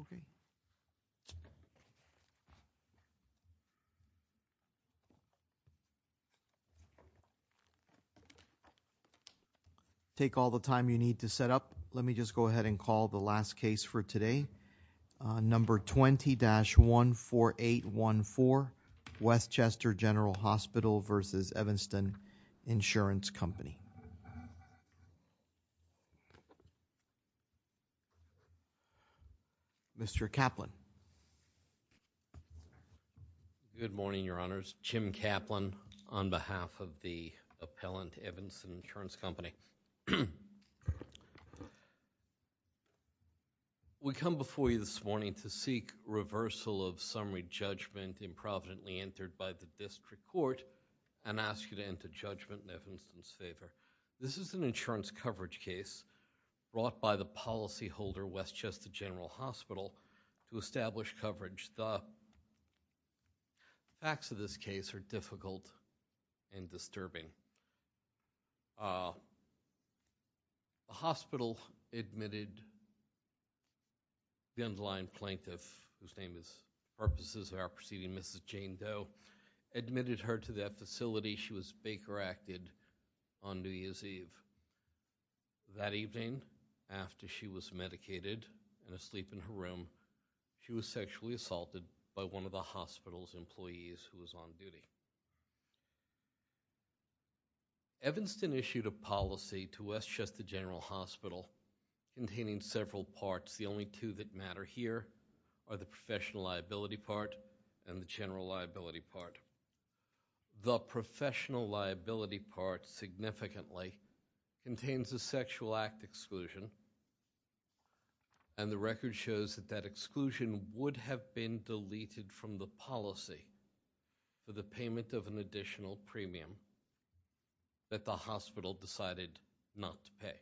Okay, take all the time you need to set up. Let me just go ahead and call the last case for today. Number 20-14814, Westchester General Hospital v. Evanston Insurance Company. Mr. Kaplan. Good morning, your honors. Jim Kaplan on behalf of the appellant, Evanston Insurance Company. We come before you this morning to seek reversal of summary judgment improvidently entered by the district court and ask you to enter judgment in Evanston's favor. This is an insurance coverage case brought by the policy holder, Westchester General Hospital to establish coverage. The facts of this case are difficult and disturbing. The hospital admitted the underlying plaintiff, whose name is purposes of our proceeding, Mrs. Jane Doe, admitted her to that facility. She was Baker-acted on New Year's Eve. That evening, after she was medicated and asleep in her room, she was sexually assaulted by one of the hospital's employees who was on duty. Evanston issued a policy to Westchester General Hospital containing several parts. The only two that matter here are the professional liability part and the general liability part. The professional liability part significantly contains a sexual act exclusion, and the record shows that that exclusion would have been deleted from the policy for the payment of an additional premium that the hospital decided not to pay.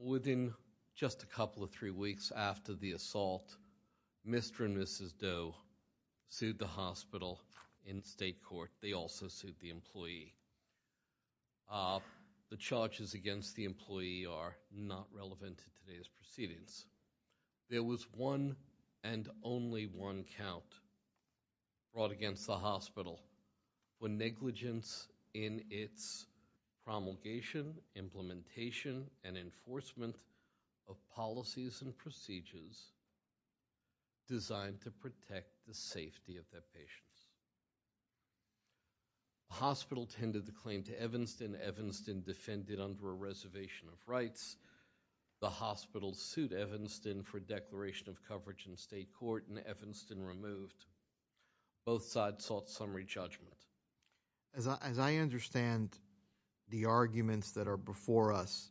Within just a couple of three weeks after the assault, Mr. and Mrs. Doe sued the hospital in state court. They also sued the employee. The charges against the employee are not relevant to today's proceedings. There was one and only one count brought against the hospital for negligence in its promulgation, implementation, and enforcement of policies and procedures designed to protect the safety of their patients. The hospital tended to claim to Evanston. Evanston defended under a reservation of rights. The hospital sued Evanston for declaration of coverage in state court, and Evanston removed. Both sides sought summary judgment. As I understand the arguments that are before us,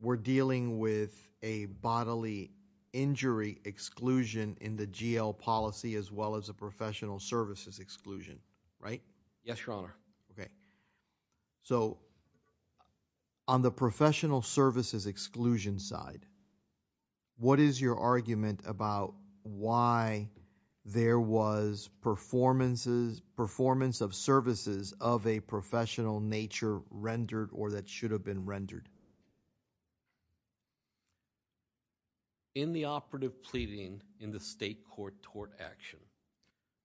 we're dealing with a bodily injury exclusion in the GL policy as well as a professional services exclusion, right? Yes, Your Honor. Okay. So on the professional services exclusion side, what is your argument about why there was performance of services of a professional nature rendered or that should have been rendered? In the operative pleading in the state court tort action,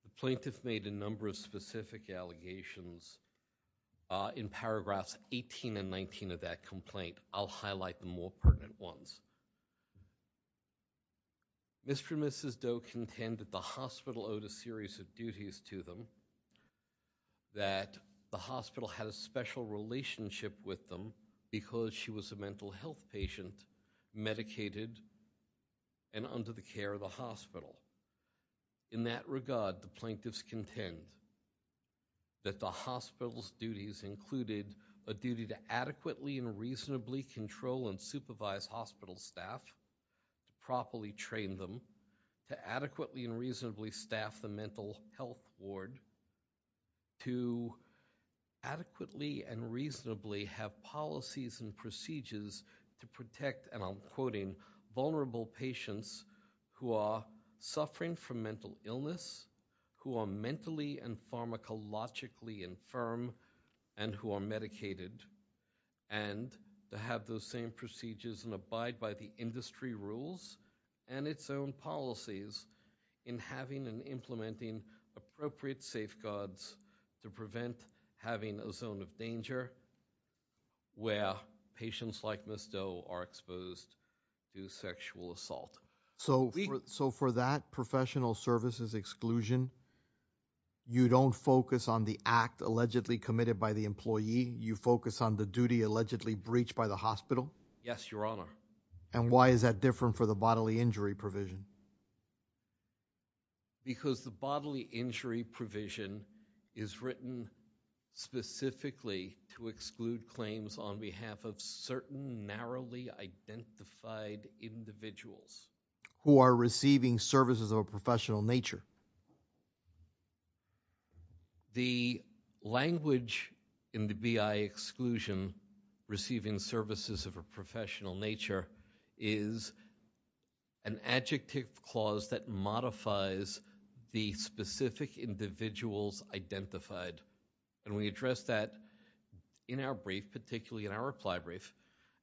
the plaintiff made a number of specific allegations in paragraphs 18 and 19 of that complaint. I'll highlight the more pertinent ones. Mr. and Mrs. Doe contended the hospital owed a series of duties to them, that the hospital had a special relationship with them because she was a mental health patient, medicated, and under the care of the hospital. In that regard, the plaintiffs contend that the hospital's duties included a duty to adequately and reasonably control and supervise hospital staff, to properly train them, to adequately and reasonably staff the mental health ward, to adequately and reasonably have policies and procedures to protect, and I'm quoting, vulnerable patients who are suffering from mental illness, who are mentally and pharmacologically infirm, and who are medicated, and to have those same procedures and abide by the industry rules and its own policies in having and implementing appropriate safeguards to prevent having a zone of danger where patients like Ms. Doe are exposed to sexual assault. So for that professional services exclusion, you don't focus on the act allegedly committed by the employee, you focus on the duty allegedly breached by the hospital? Yes, Your Honor. And why is that different for the bodily injury provision? Because the bodily injury provision is written specifically to exclude claims on behalf of certain narrowly identified individuals. Who are receiving services of a professional nature. The language in the BI exclusion, receiving services of a professional nature, is an adjective clause that modifies the specific individuals identified, and we address that in our brief, particularly in our reply brief,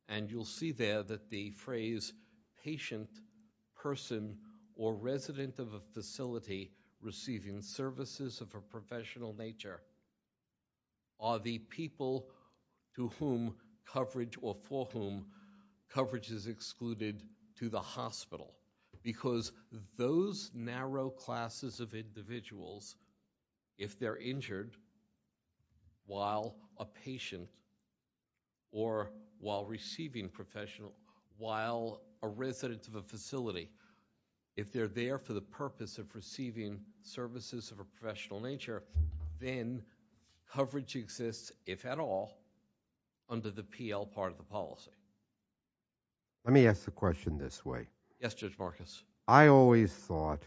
and you'll see there that the phrase patient, person, or resident of a facility receiving services of a professional nature are the people to whom coverage or for whom coverage is excluded to the hospital. Because those narrow classes of individuals, if they're injured while a patient or while receiving professional, while a resident of a facility, if they're there for the purpose of receiving services of a professional nature, then coverage exists, if at all, under the PL part of the policy. Let me ask the question this way. Yes, Judge Marcus. I always thought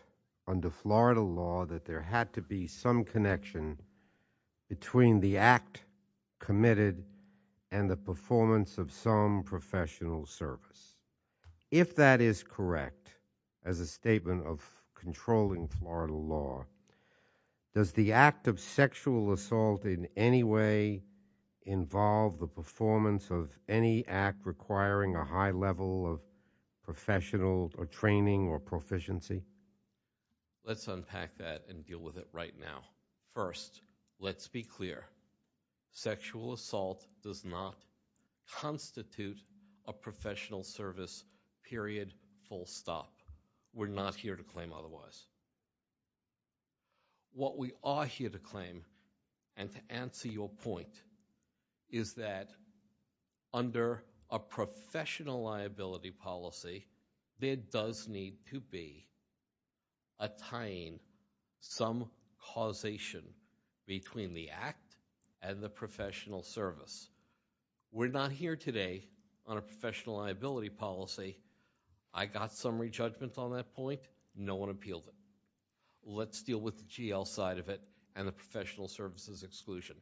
under Florida law that there had to be some connection between the act committed and the performance of some professional service. If that is correct, as a statement of controlling Florida law, does the act of sexual assault in any way involve the performance of any act requiring a high level of professional or training or proficiency? Let's unpack that and deal with it right now. First, let's be clear. Sexual assault does not constitute a professional service, period, full stop. We're not here to claim otherwise. What we are here to claim, and to answer your point, is that under a professional liability policy, there does need to be a tying, some causation between the act and the professional service. We're not here today on a professional liability policy. I got summary judgment on that point. No one appealed it. Let's deal with the GL side of it and the professional services exclusion.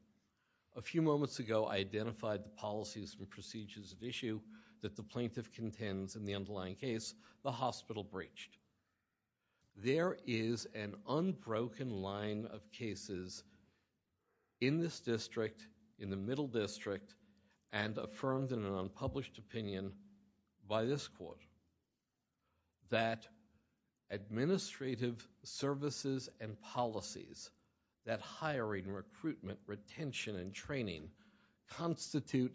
A few moments ago, I identified the policies and procedures of issue that the plaintiff contends in the underlying case, the hospital breached. There is an unbroken line of cases in this district, in the middle district, and affirmed in an unpublished opinion by this court, that administrative services and policies that tie hiring, recruitment, retention, and training constitute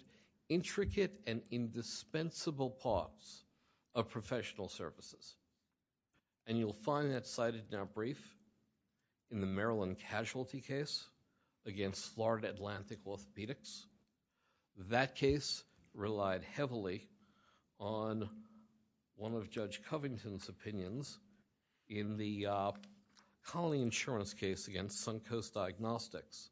intricate and indispensable parts of professional services. You'll find that cited now brief in the Maryland casualty case against Florida Atlantic Orthopedics. That case relied heavily on one of Judge Covington's opinions in the colony insurance case against Suncoast Diagnostics.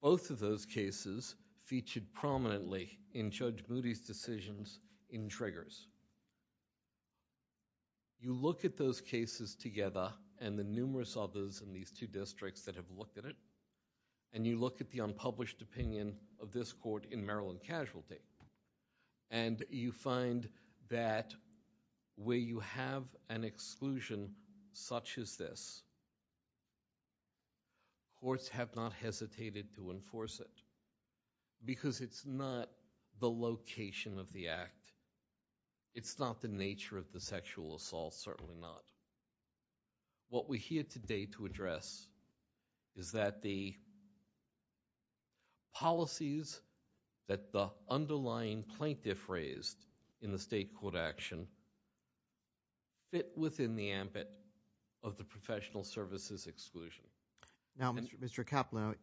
Both of those cases featured prominently in Judge Moody's decisions in triggers. You look at those cases together and the numerous others in these two districts that have looked at it, and you look at the unpublished opinion of this court in Maryland casualty, and you find that where you have an exclusion such as this, courts have not hesitated to enforce it because it's not the location of the act. It's not the nature of the sexual assault, certainly not. What we're here today to address is that the policies that the underlying plaintiff raised in the state court action fit within the ambit of the professional services exclusion. Now, Mr. Kaplan,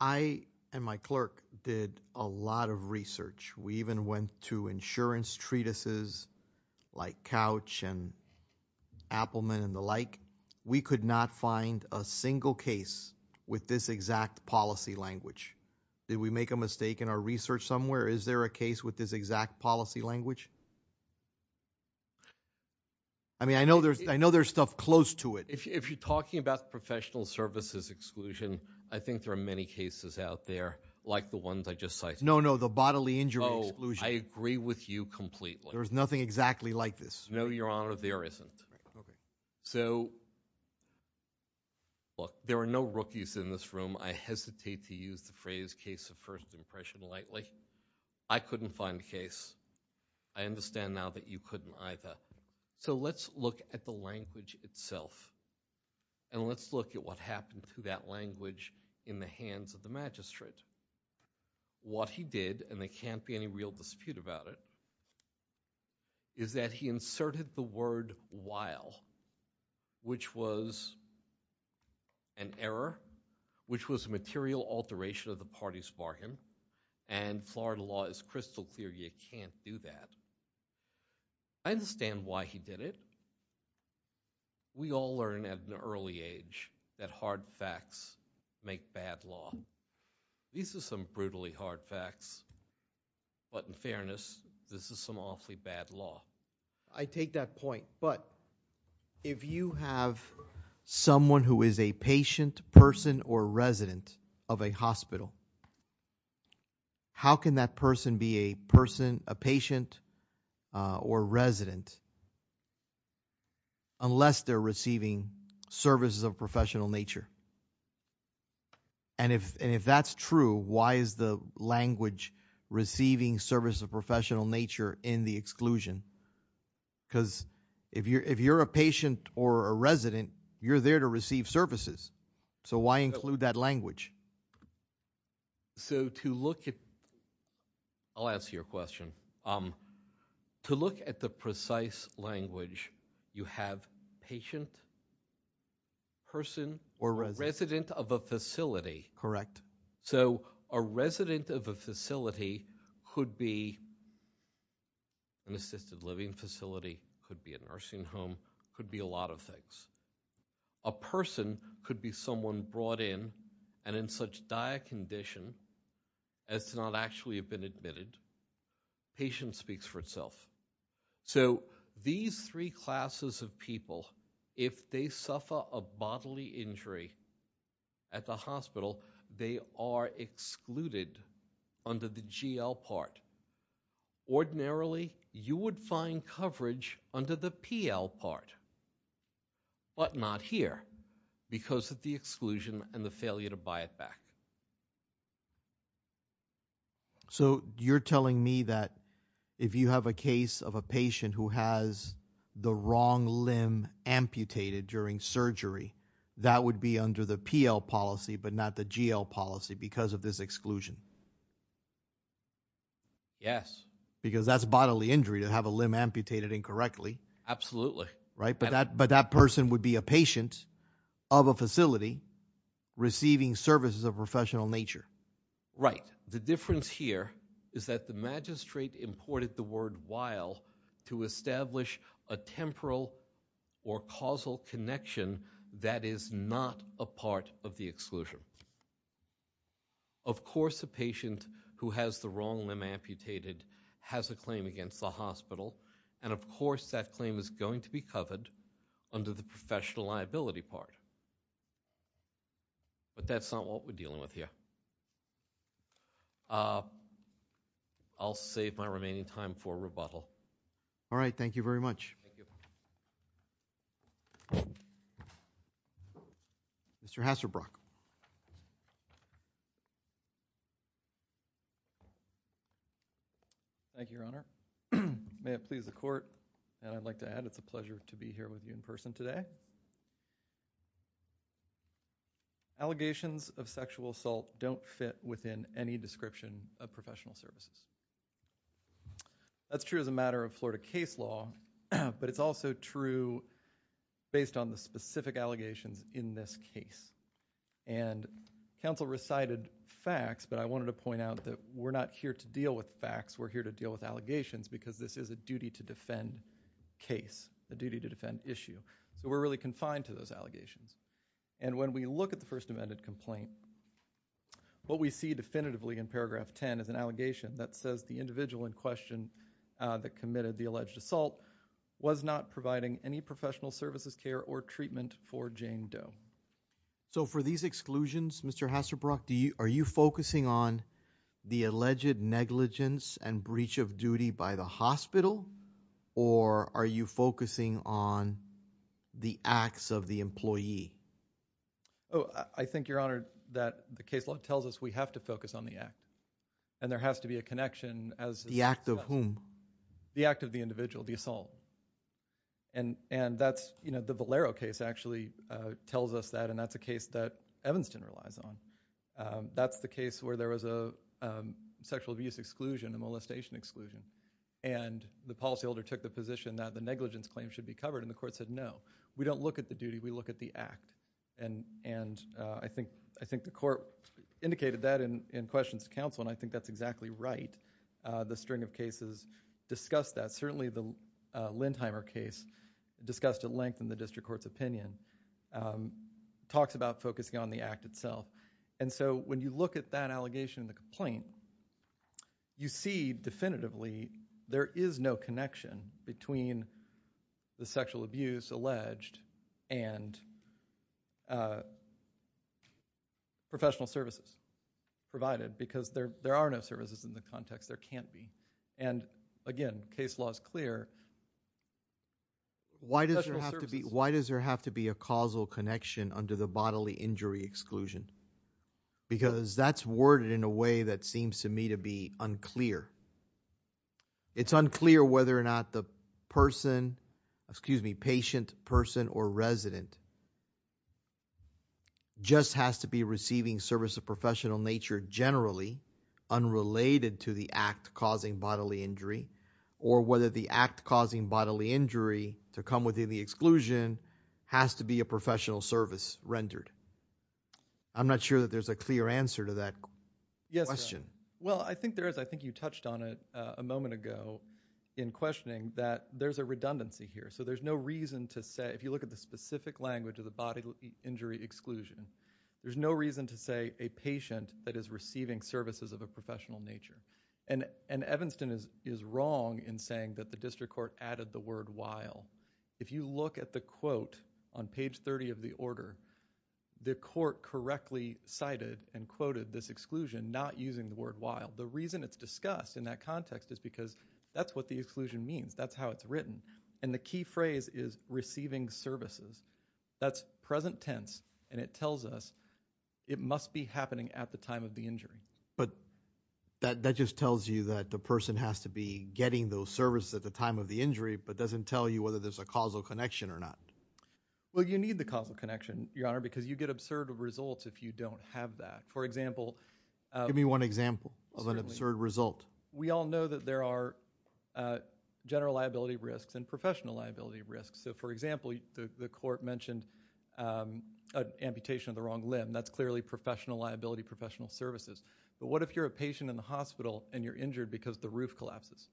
I and my clerk did a lot of research. We even went to insurance treatises like Couch and Appelman and the like. We could not find a single case with this exact policy language. Did we make a mistake in our research somewhere? Is there a case with this exact policy language? I mean, I know there's stuff close to it. If you're talking about professional services exclusion, I think there are many cases out there like the ones I just cited. No, no, the bodily injury exclusion. I agree with you completely. There's nothing exactly like this. No, Your Honor, there isn't. So look, there are no rookies in this room. I hesitate to use the phrase case of first impression lightly. I couldn't find a case. I understand now that you couldn't either. So let's look at the language itself, and let's look at what happened to that language in the hands of the magistrate. What he did, and there can't be any real dispute about it, is that he inserted the word while, which was an error, which was a material alteration of the party's bargain, and Florida law is crystal clear you can't do that. I understand why he did it. We all learn at an early age that hard facts make bad law. These are some brutally hard facts, but in fairness, this is some awfully bad law. I take that point, but if you have someone who is a patient, person, or resident of a hospital, how can that person be a person, a patient, or resident unless they're receiving services of a professional nature? And if that's true, why is the language receiving service of professional nature in the exclusion? because if you're a patient or a resident, you're there to receive services. So why include that language? So to look at, I'll answer your question. To look at the precise language, you have patient, person, or resident of a facility. Correct. So a resident of a facility could be an assisted living facility, could be a nursing home, could be a lot of things. A person could be someone brought in, and in such dire condition, as to not actually have been admitted, patient speaks for itself. So these three classes of people, if they suffer a bodily injury at the hospital, they are excluded under the GL part. Ordinarily, you would find coverage under the PL part, but not here, because of the exclusion and the failure to buy it back. So you're telling me that if you have a case of a patient who has the wrong limb amputated during surgery, that would be under the PL policy, but not the GL policy because of this exclusion? Yes. Because that's bodily injury to have a limb amputated incorrectly. Absolutely. Right, but that person would be a patient of a facility receiving services of professional nature. Right, the difference here is that the magistrate imported the word while to establish a temporal or causal connection that is not a part of the exclusion. Of course a patient who has the wrong limb amputated has a claim against the hospital, and of course that claim is going to be covered under the professional liability part. But that's not what we're dealing with here. I'll save my remaining time for rebuttal. All right, thank you very much. Mr. Hassebrock. Thank you, Your Honor. May it please the Court, and I'd like to add it's a pleasure to be here with you in person today. Allegations of sexual assault don't fit within any description of professional services. That's true as a matter of Florida case law, but it's also true based on the specific allegations in this case. And counsel recited facts, but I wanted to point out that we're not here to deal with facts, we're here to deal with allegations because this is a duty-to-defend case, a duty-to-defend issue. So we're really confined to those allegations. And when we look at the First Amendment complaint, what we see definitively in paragraph 10 is an allegation that says the individual in question that committed the alleged assault was not providing any professional services care or treatment for Jane Doe. So for these exclusions, Mr. Hassebrock, are you focusing on the alleged negligence and breach of duty by the hospital, or are you focusing on the acts of the employee? Oh, I think, Your Honor, that the case law tells us we have to focus on the act. And there has to be a connection as to that. The act of whom? The act of the individual, the assault. And that's, you know, the Valero case actually tells us that, and that's a case that Evanston relies on. That's the case where there was a sexual abuse exclusion, a molestation exclusion. And the policyholder took the position that the negligence claim should be covered, and the court said, no, we don't look at the duty, we look at the act. And I think the court indicated that in questions to counsel, and I think that's exactly right. The string of cases discuss that. Certainly the Lindheimer case discussed at length in the district court's opinion talks about focusing on the act itself. And so when you look at that allegation in the complaint, you see definitively there is no connection between the sexual abuse alleged and professional services provided, because there are no services in the context there can't be. And again, case law is clear. Why does there have to be a causal connection under the bodily injury exclusion? Because that's worded in a way that seems to me to be unclear. It's unclear whether or not the person, excuse me, patient, person, or resident just has to be receiving service of professional nature generally unrelated to the act causing bodily injury, or whether the act causing bodily injury to come within the exclusion has to be a professional service rendered. I'm not sure that there's a clear answer to that question. Well, I think there is. I think you touched on it a moment ago in questioning that there's a redundancy here. So there's no reason to say, if you look at the specific language of the bodily injury exclusion, there's no reason to say a patient that is receiving services of a professional nature. And Evanston is wrong in saying that the district court added the word while. If you look at the quote on page 30 of the order, the court correctly cited and quoted this exclusion not using the word while. The reason it's discussed in that context is because that's what the exclusion means. That's how it's written. And the key phrase is receiving services. That's present tense. And it tells us it must be happening at the time of the injury. But that just tells you that the person has to be getting those services at the time of the injury, but doesn't tell you whether there's a causal connection or not. Well, you need the causal connection, Your Honor, because you get absurd results if you don't have that. Give me one example of an absurd result. We all know that there are general liability risks and professional liability risks. So, for example, the court mentioned amputation of the wrong limb. That's clearly professional liability, professional services. But what if you're a patient in the hospital and you're injured because the roof collapses?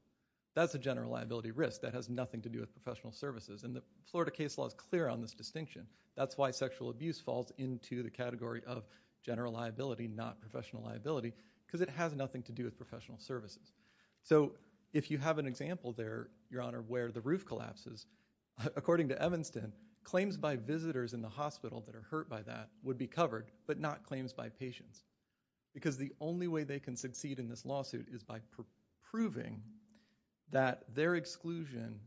That's a general liability risk. That has nothing to do with professional services. And the Florida case law is clear on this distinction. That's why sexual abuse falls into the category of general liability, not professional liability, because it has nothing to do with professional services. So, if you have an example there, Your Honor, where the roof collapses, according to Evanston, claims by visitors in the hospital that are hurt by that would be covered, but not claims by patients. Because the only way they can succeed in this lawsuit is by proving that their exclusion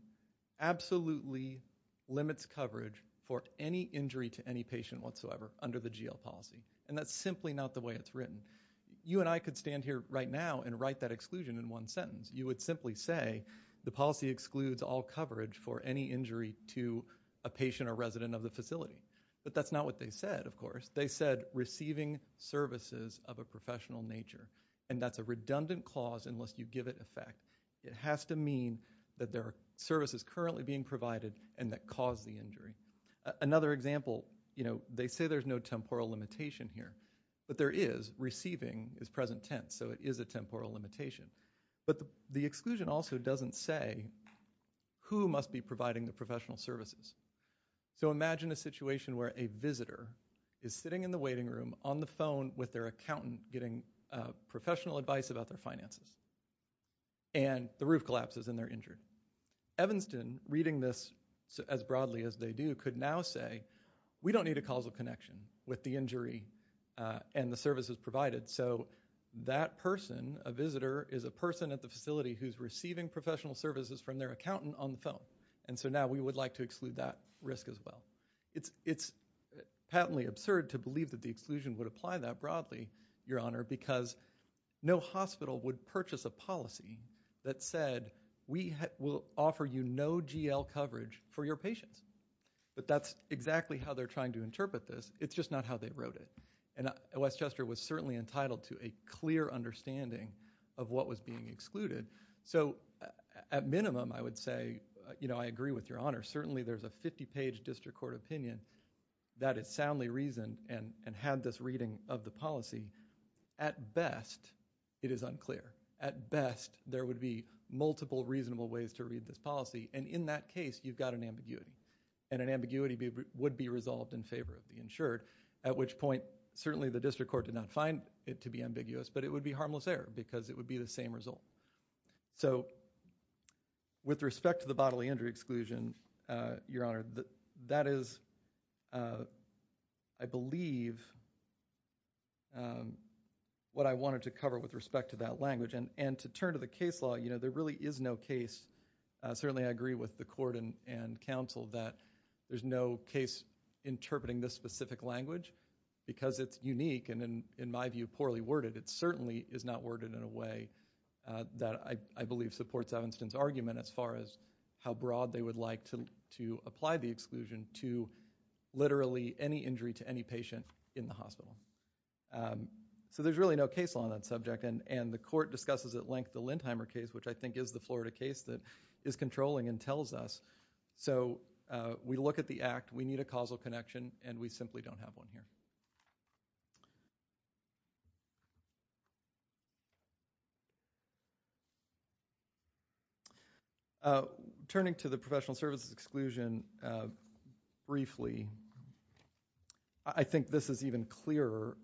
absolutely limits coverage for any injury to any patient whatsoever under the GL policy. And that's simply not the way it's written. You and I could stand here right now and write that exclusion in one sentence. You would simply say, the policy excludes all coverage for any injury to a patient or resident of the facility. But that's not what they said, of course. They said, receiving services of a professional nature. And that's a redundant clause unless you give it effect. It has to mean that there are services currently being provided and that cause the injury. Another example, they say there's no temporal limitation here. But there is. Receiving is present tense, so it is a temporal limitation. But the exclusion also doesn't say who must be providing the professional services. So imagine a situation where a visitor is sitting in the waiting room on the phone with their accountant giving professional advice about their finances. And the roof collapses and they're injured. Evanston, reading this as broadly as they do, could now say, we don't need a causal connection with the injury and the services provided. So that person, a visitor, is a person at the facility who's receiving professional services from their accountant on the phone. And so now we would like to exclude that risk as well. It's patently absurd to believe that the exclusion would apply that broadly, Your Honor, because no hospital would purchase a policy that said we will offer you no GL coverage for your patients. But that's exactly how they're trying to interpret this. It's just not how they wrote it. And Westchester was certainly entitled to a clear understanding of what was being excluded. So at minimum, I would say, you know, I agree with Your Honor, certainly there's a 50-page district court opinion that is soundly reasoned and had this reading of the policy. At best, it is unclear. At best, there would be multiple reasonable ways to read this policy. And in that case, you've got an ambiguity. And an ambiguity would be resolved in favor of the insured, at which point certainly the district court did not find it to be ambiguous, but it would be harmless error because it would be the same result. So with respect to the bodily injury exclusion, Your Honor, that is, I believe, what I wanted to cover with respect to that language. And to turn to the case law, you know, there really is no case, certainly I agree with the court and counsel that there's no case interpreting this specific language because it's unique and in my view, poorly worded. It certainly is not worded in a way that I believe supports Evanston's argument as far as how broad they would like to apply the exclusion to literally any injury to any patient in the hospital. So there's really no case law on that subject and the court discusses at length the Lindheimer case, which I think is the Florida case that is controlling and tells us. So we look at the act, we need a causal connection and we simply don't have one here. Turning to the professional services exclusion briefly, I think this is even clearer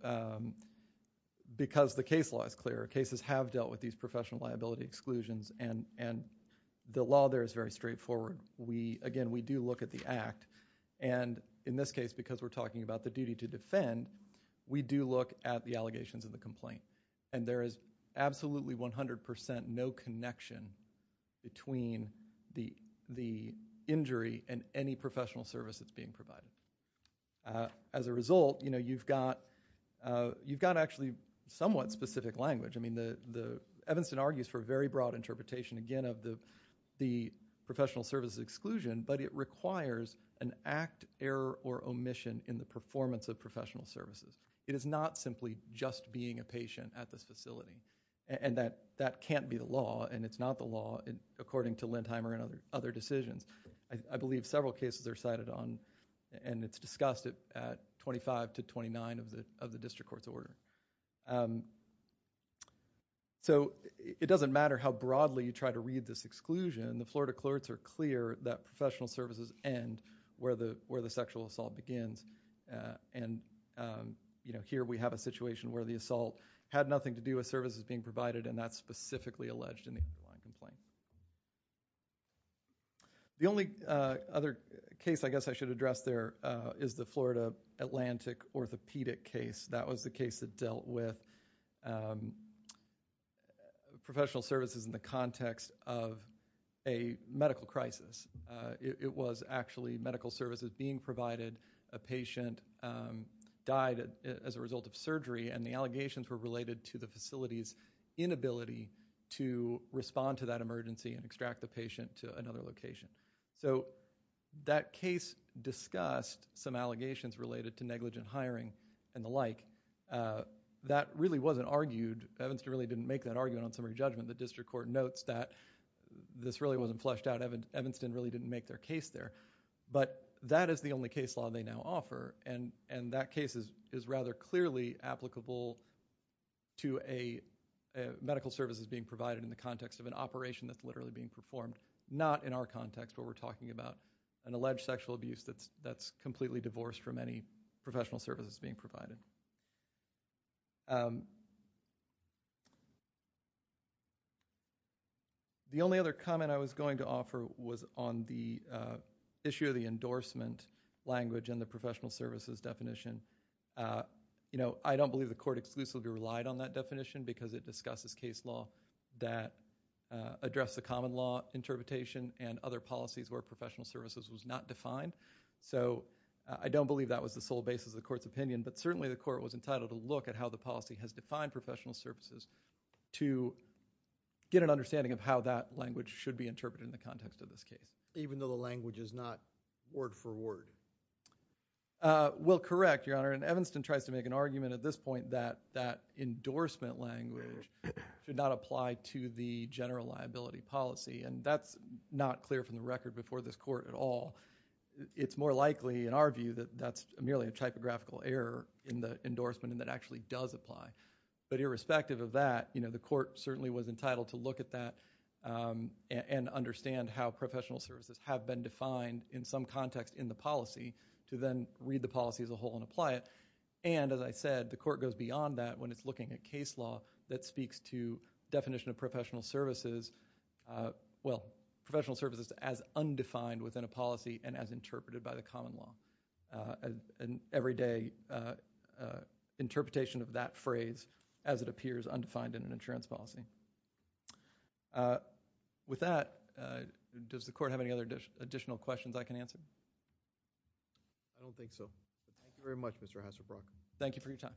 because the case law is clearer. Cases have dealt with these professional liability exclusions and the law there is very straightforward. Again, we do look at the act and in this case, because we're talking about the duty to defend, we do look at the allegations of the complaint and there is absolutely 100% no connection between the injury and any professional service that's being provided. As a result, you've got actually somewhat specific language. I mean, Evanston argues for a very broad interpretation again of the professional services exclusion, but it requires an act, error or omission in the performance of professional services. It is not simply just being a patient at this facility and that can't be the law and it's not the law according to Lindheimer and other decisions. I believe several cases are cited on and it's discussed at 25 to 29 of the district court's order. So it doesn't matter how broadly you try to read this exclusion. The Florida clerks are clear that professional services end where the sexual assault begins and here we have a situation where the assault had nothing to do with services being provided and that's specifically alleged in the complaint. The only other case I guess I should address there is the Florida Atlantic orthopedic case. That was the case that dealt with professional services in the context of a medical crisis. It was actually medical services being provided. A patient died as a result of surgery and the allegations were related to the facility's inability to respond to that emergency and extract the patient to another location. So that case discussed some allegations related to negligent hiring and the like. That really wasn't argued. Evanston really didn't make that argument on summary judgment. The district court notes that this really wasn't fleshed out. Evanston really didn't make their case there, but that is the only case law they now offer and that case is rather clearly applicable to medical services being provided in the context of an operation that's literally being performed, not in our context where we're talking about an alleged sexual abuse that's completely divorced from any professional services being provided. The only other comment I was going to offer was on the issue of the endorsement language and the professional services definition. I don't believe the court exclusively relied on that definition because it discusses case law that address the common law interpretation and other policies where professional services was not defined. So I don't believe that was the sole basis of the court's opinion, but certainly the court was entitled to look at how the policy has defined professional services to get an understanding of how that language should be interpreted in the context of this case. Even though the language is not word for word? Well, correct, Your Honor. And Evanston tries to make an argument at this point that that endorsement language should not apply to the general liability policy and that's not clear from the record before this court at all. It's more likely, in our view, that that's merely a typographical error in the endorsement and that actually does apply. But irrespective of that, the court certainly was entitled to look at that and understand how professional services have been defined in some context in the policy to then read the policy as a whole and apply it. And, as I said, the court goes beyond that when it's looking at case law that speaks to definition of professional services... Well, professional services as undefined within a policy and as interpreted by the common law. An everyday interpretation of that phrase as it appears undefined in an insurance policy. With that, does the court have any additional questions I can answer? I don't think so. Thank you very much, Mr. Hasselbrock. Thank you for your time.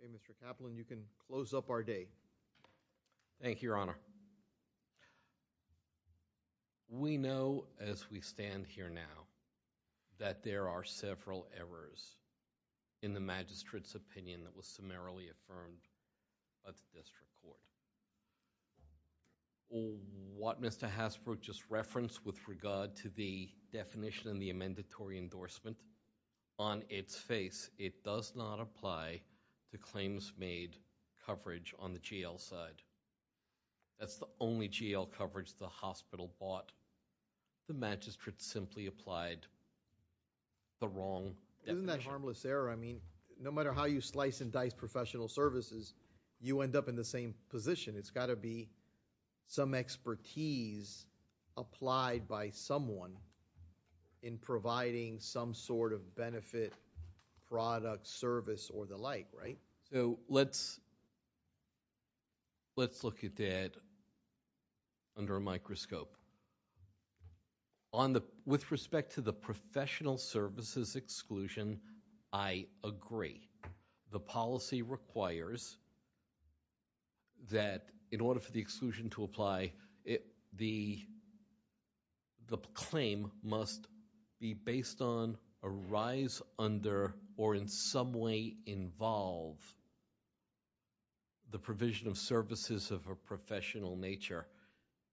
Okay, Mr. Kaplan, you can close up our day. Thank you, Your Honor. We know, as we stand here now, that there are several errors in the magistrate's opinion that was summarily affirmed at the district court. What Mr. Hasselbrock just referenced with regard to the definition and the amendatory endorsement, on its face, it does not apply to claims made coverage on the jail side. That's the only jail coverage the hospital bought. The magistrate simply applied the wrong definition. Isn't that a harmless error? No matter how you slice and dice professional services, you end up in the same position. It's got to be some expertise applied by someone in providing some sort of benefit, product, service, or the like, right? So let's look at that under a microscope. With respect to the professional services exclusion, I agree. The policy requires that, in order for the exclusion to apply, the claim must be based on, arise under, or in some way involve the provision of services of a professional nature.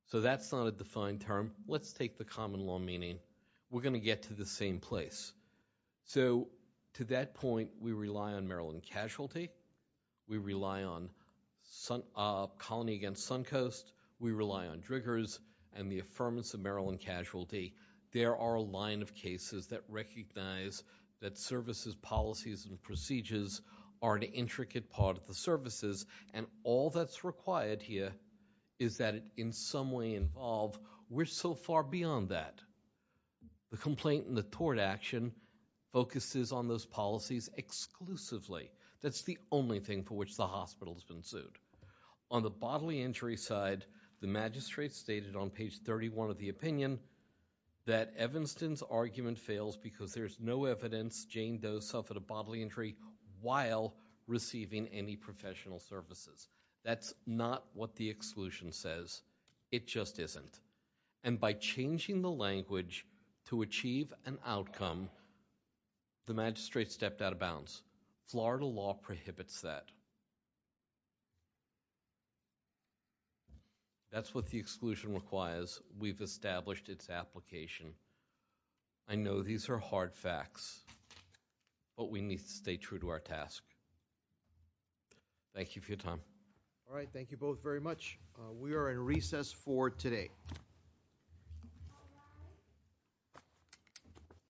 So that's not a defined term. Let's take the common law meaning. We're going to get to the same place. So to that point, we rely on Maryland casualty. We rely on Colony Against Suncoast. We rely on Driggers and the affirmance of Maryland casualty. There are a line of cases that recognize that services, policies, and procedures are an intricate part of the services, and all that's required here is that it in some way involve. We're so far beyond that. The complaint and the tort action focuses on those policies exclusively. That's the only thing for which the hospital's been sued. On the bodily injury side, the magistrate stated on page 31 of the opinion that Evanston's argument fails because there's no evidence Jane Doe suffered a bodily injury while receiving any professional services. That's not what the exclusion says. It just isn't. And by changing the language to achieve an outcome, the magistrate stepped out of bounds. Florida law prohibits that. That's what the exclusion requires. We've established its application. I know these are hard facts, but we need to stay true to our task. Thank you for your time. All right, thank you both very much. We are in recess for today.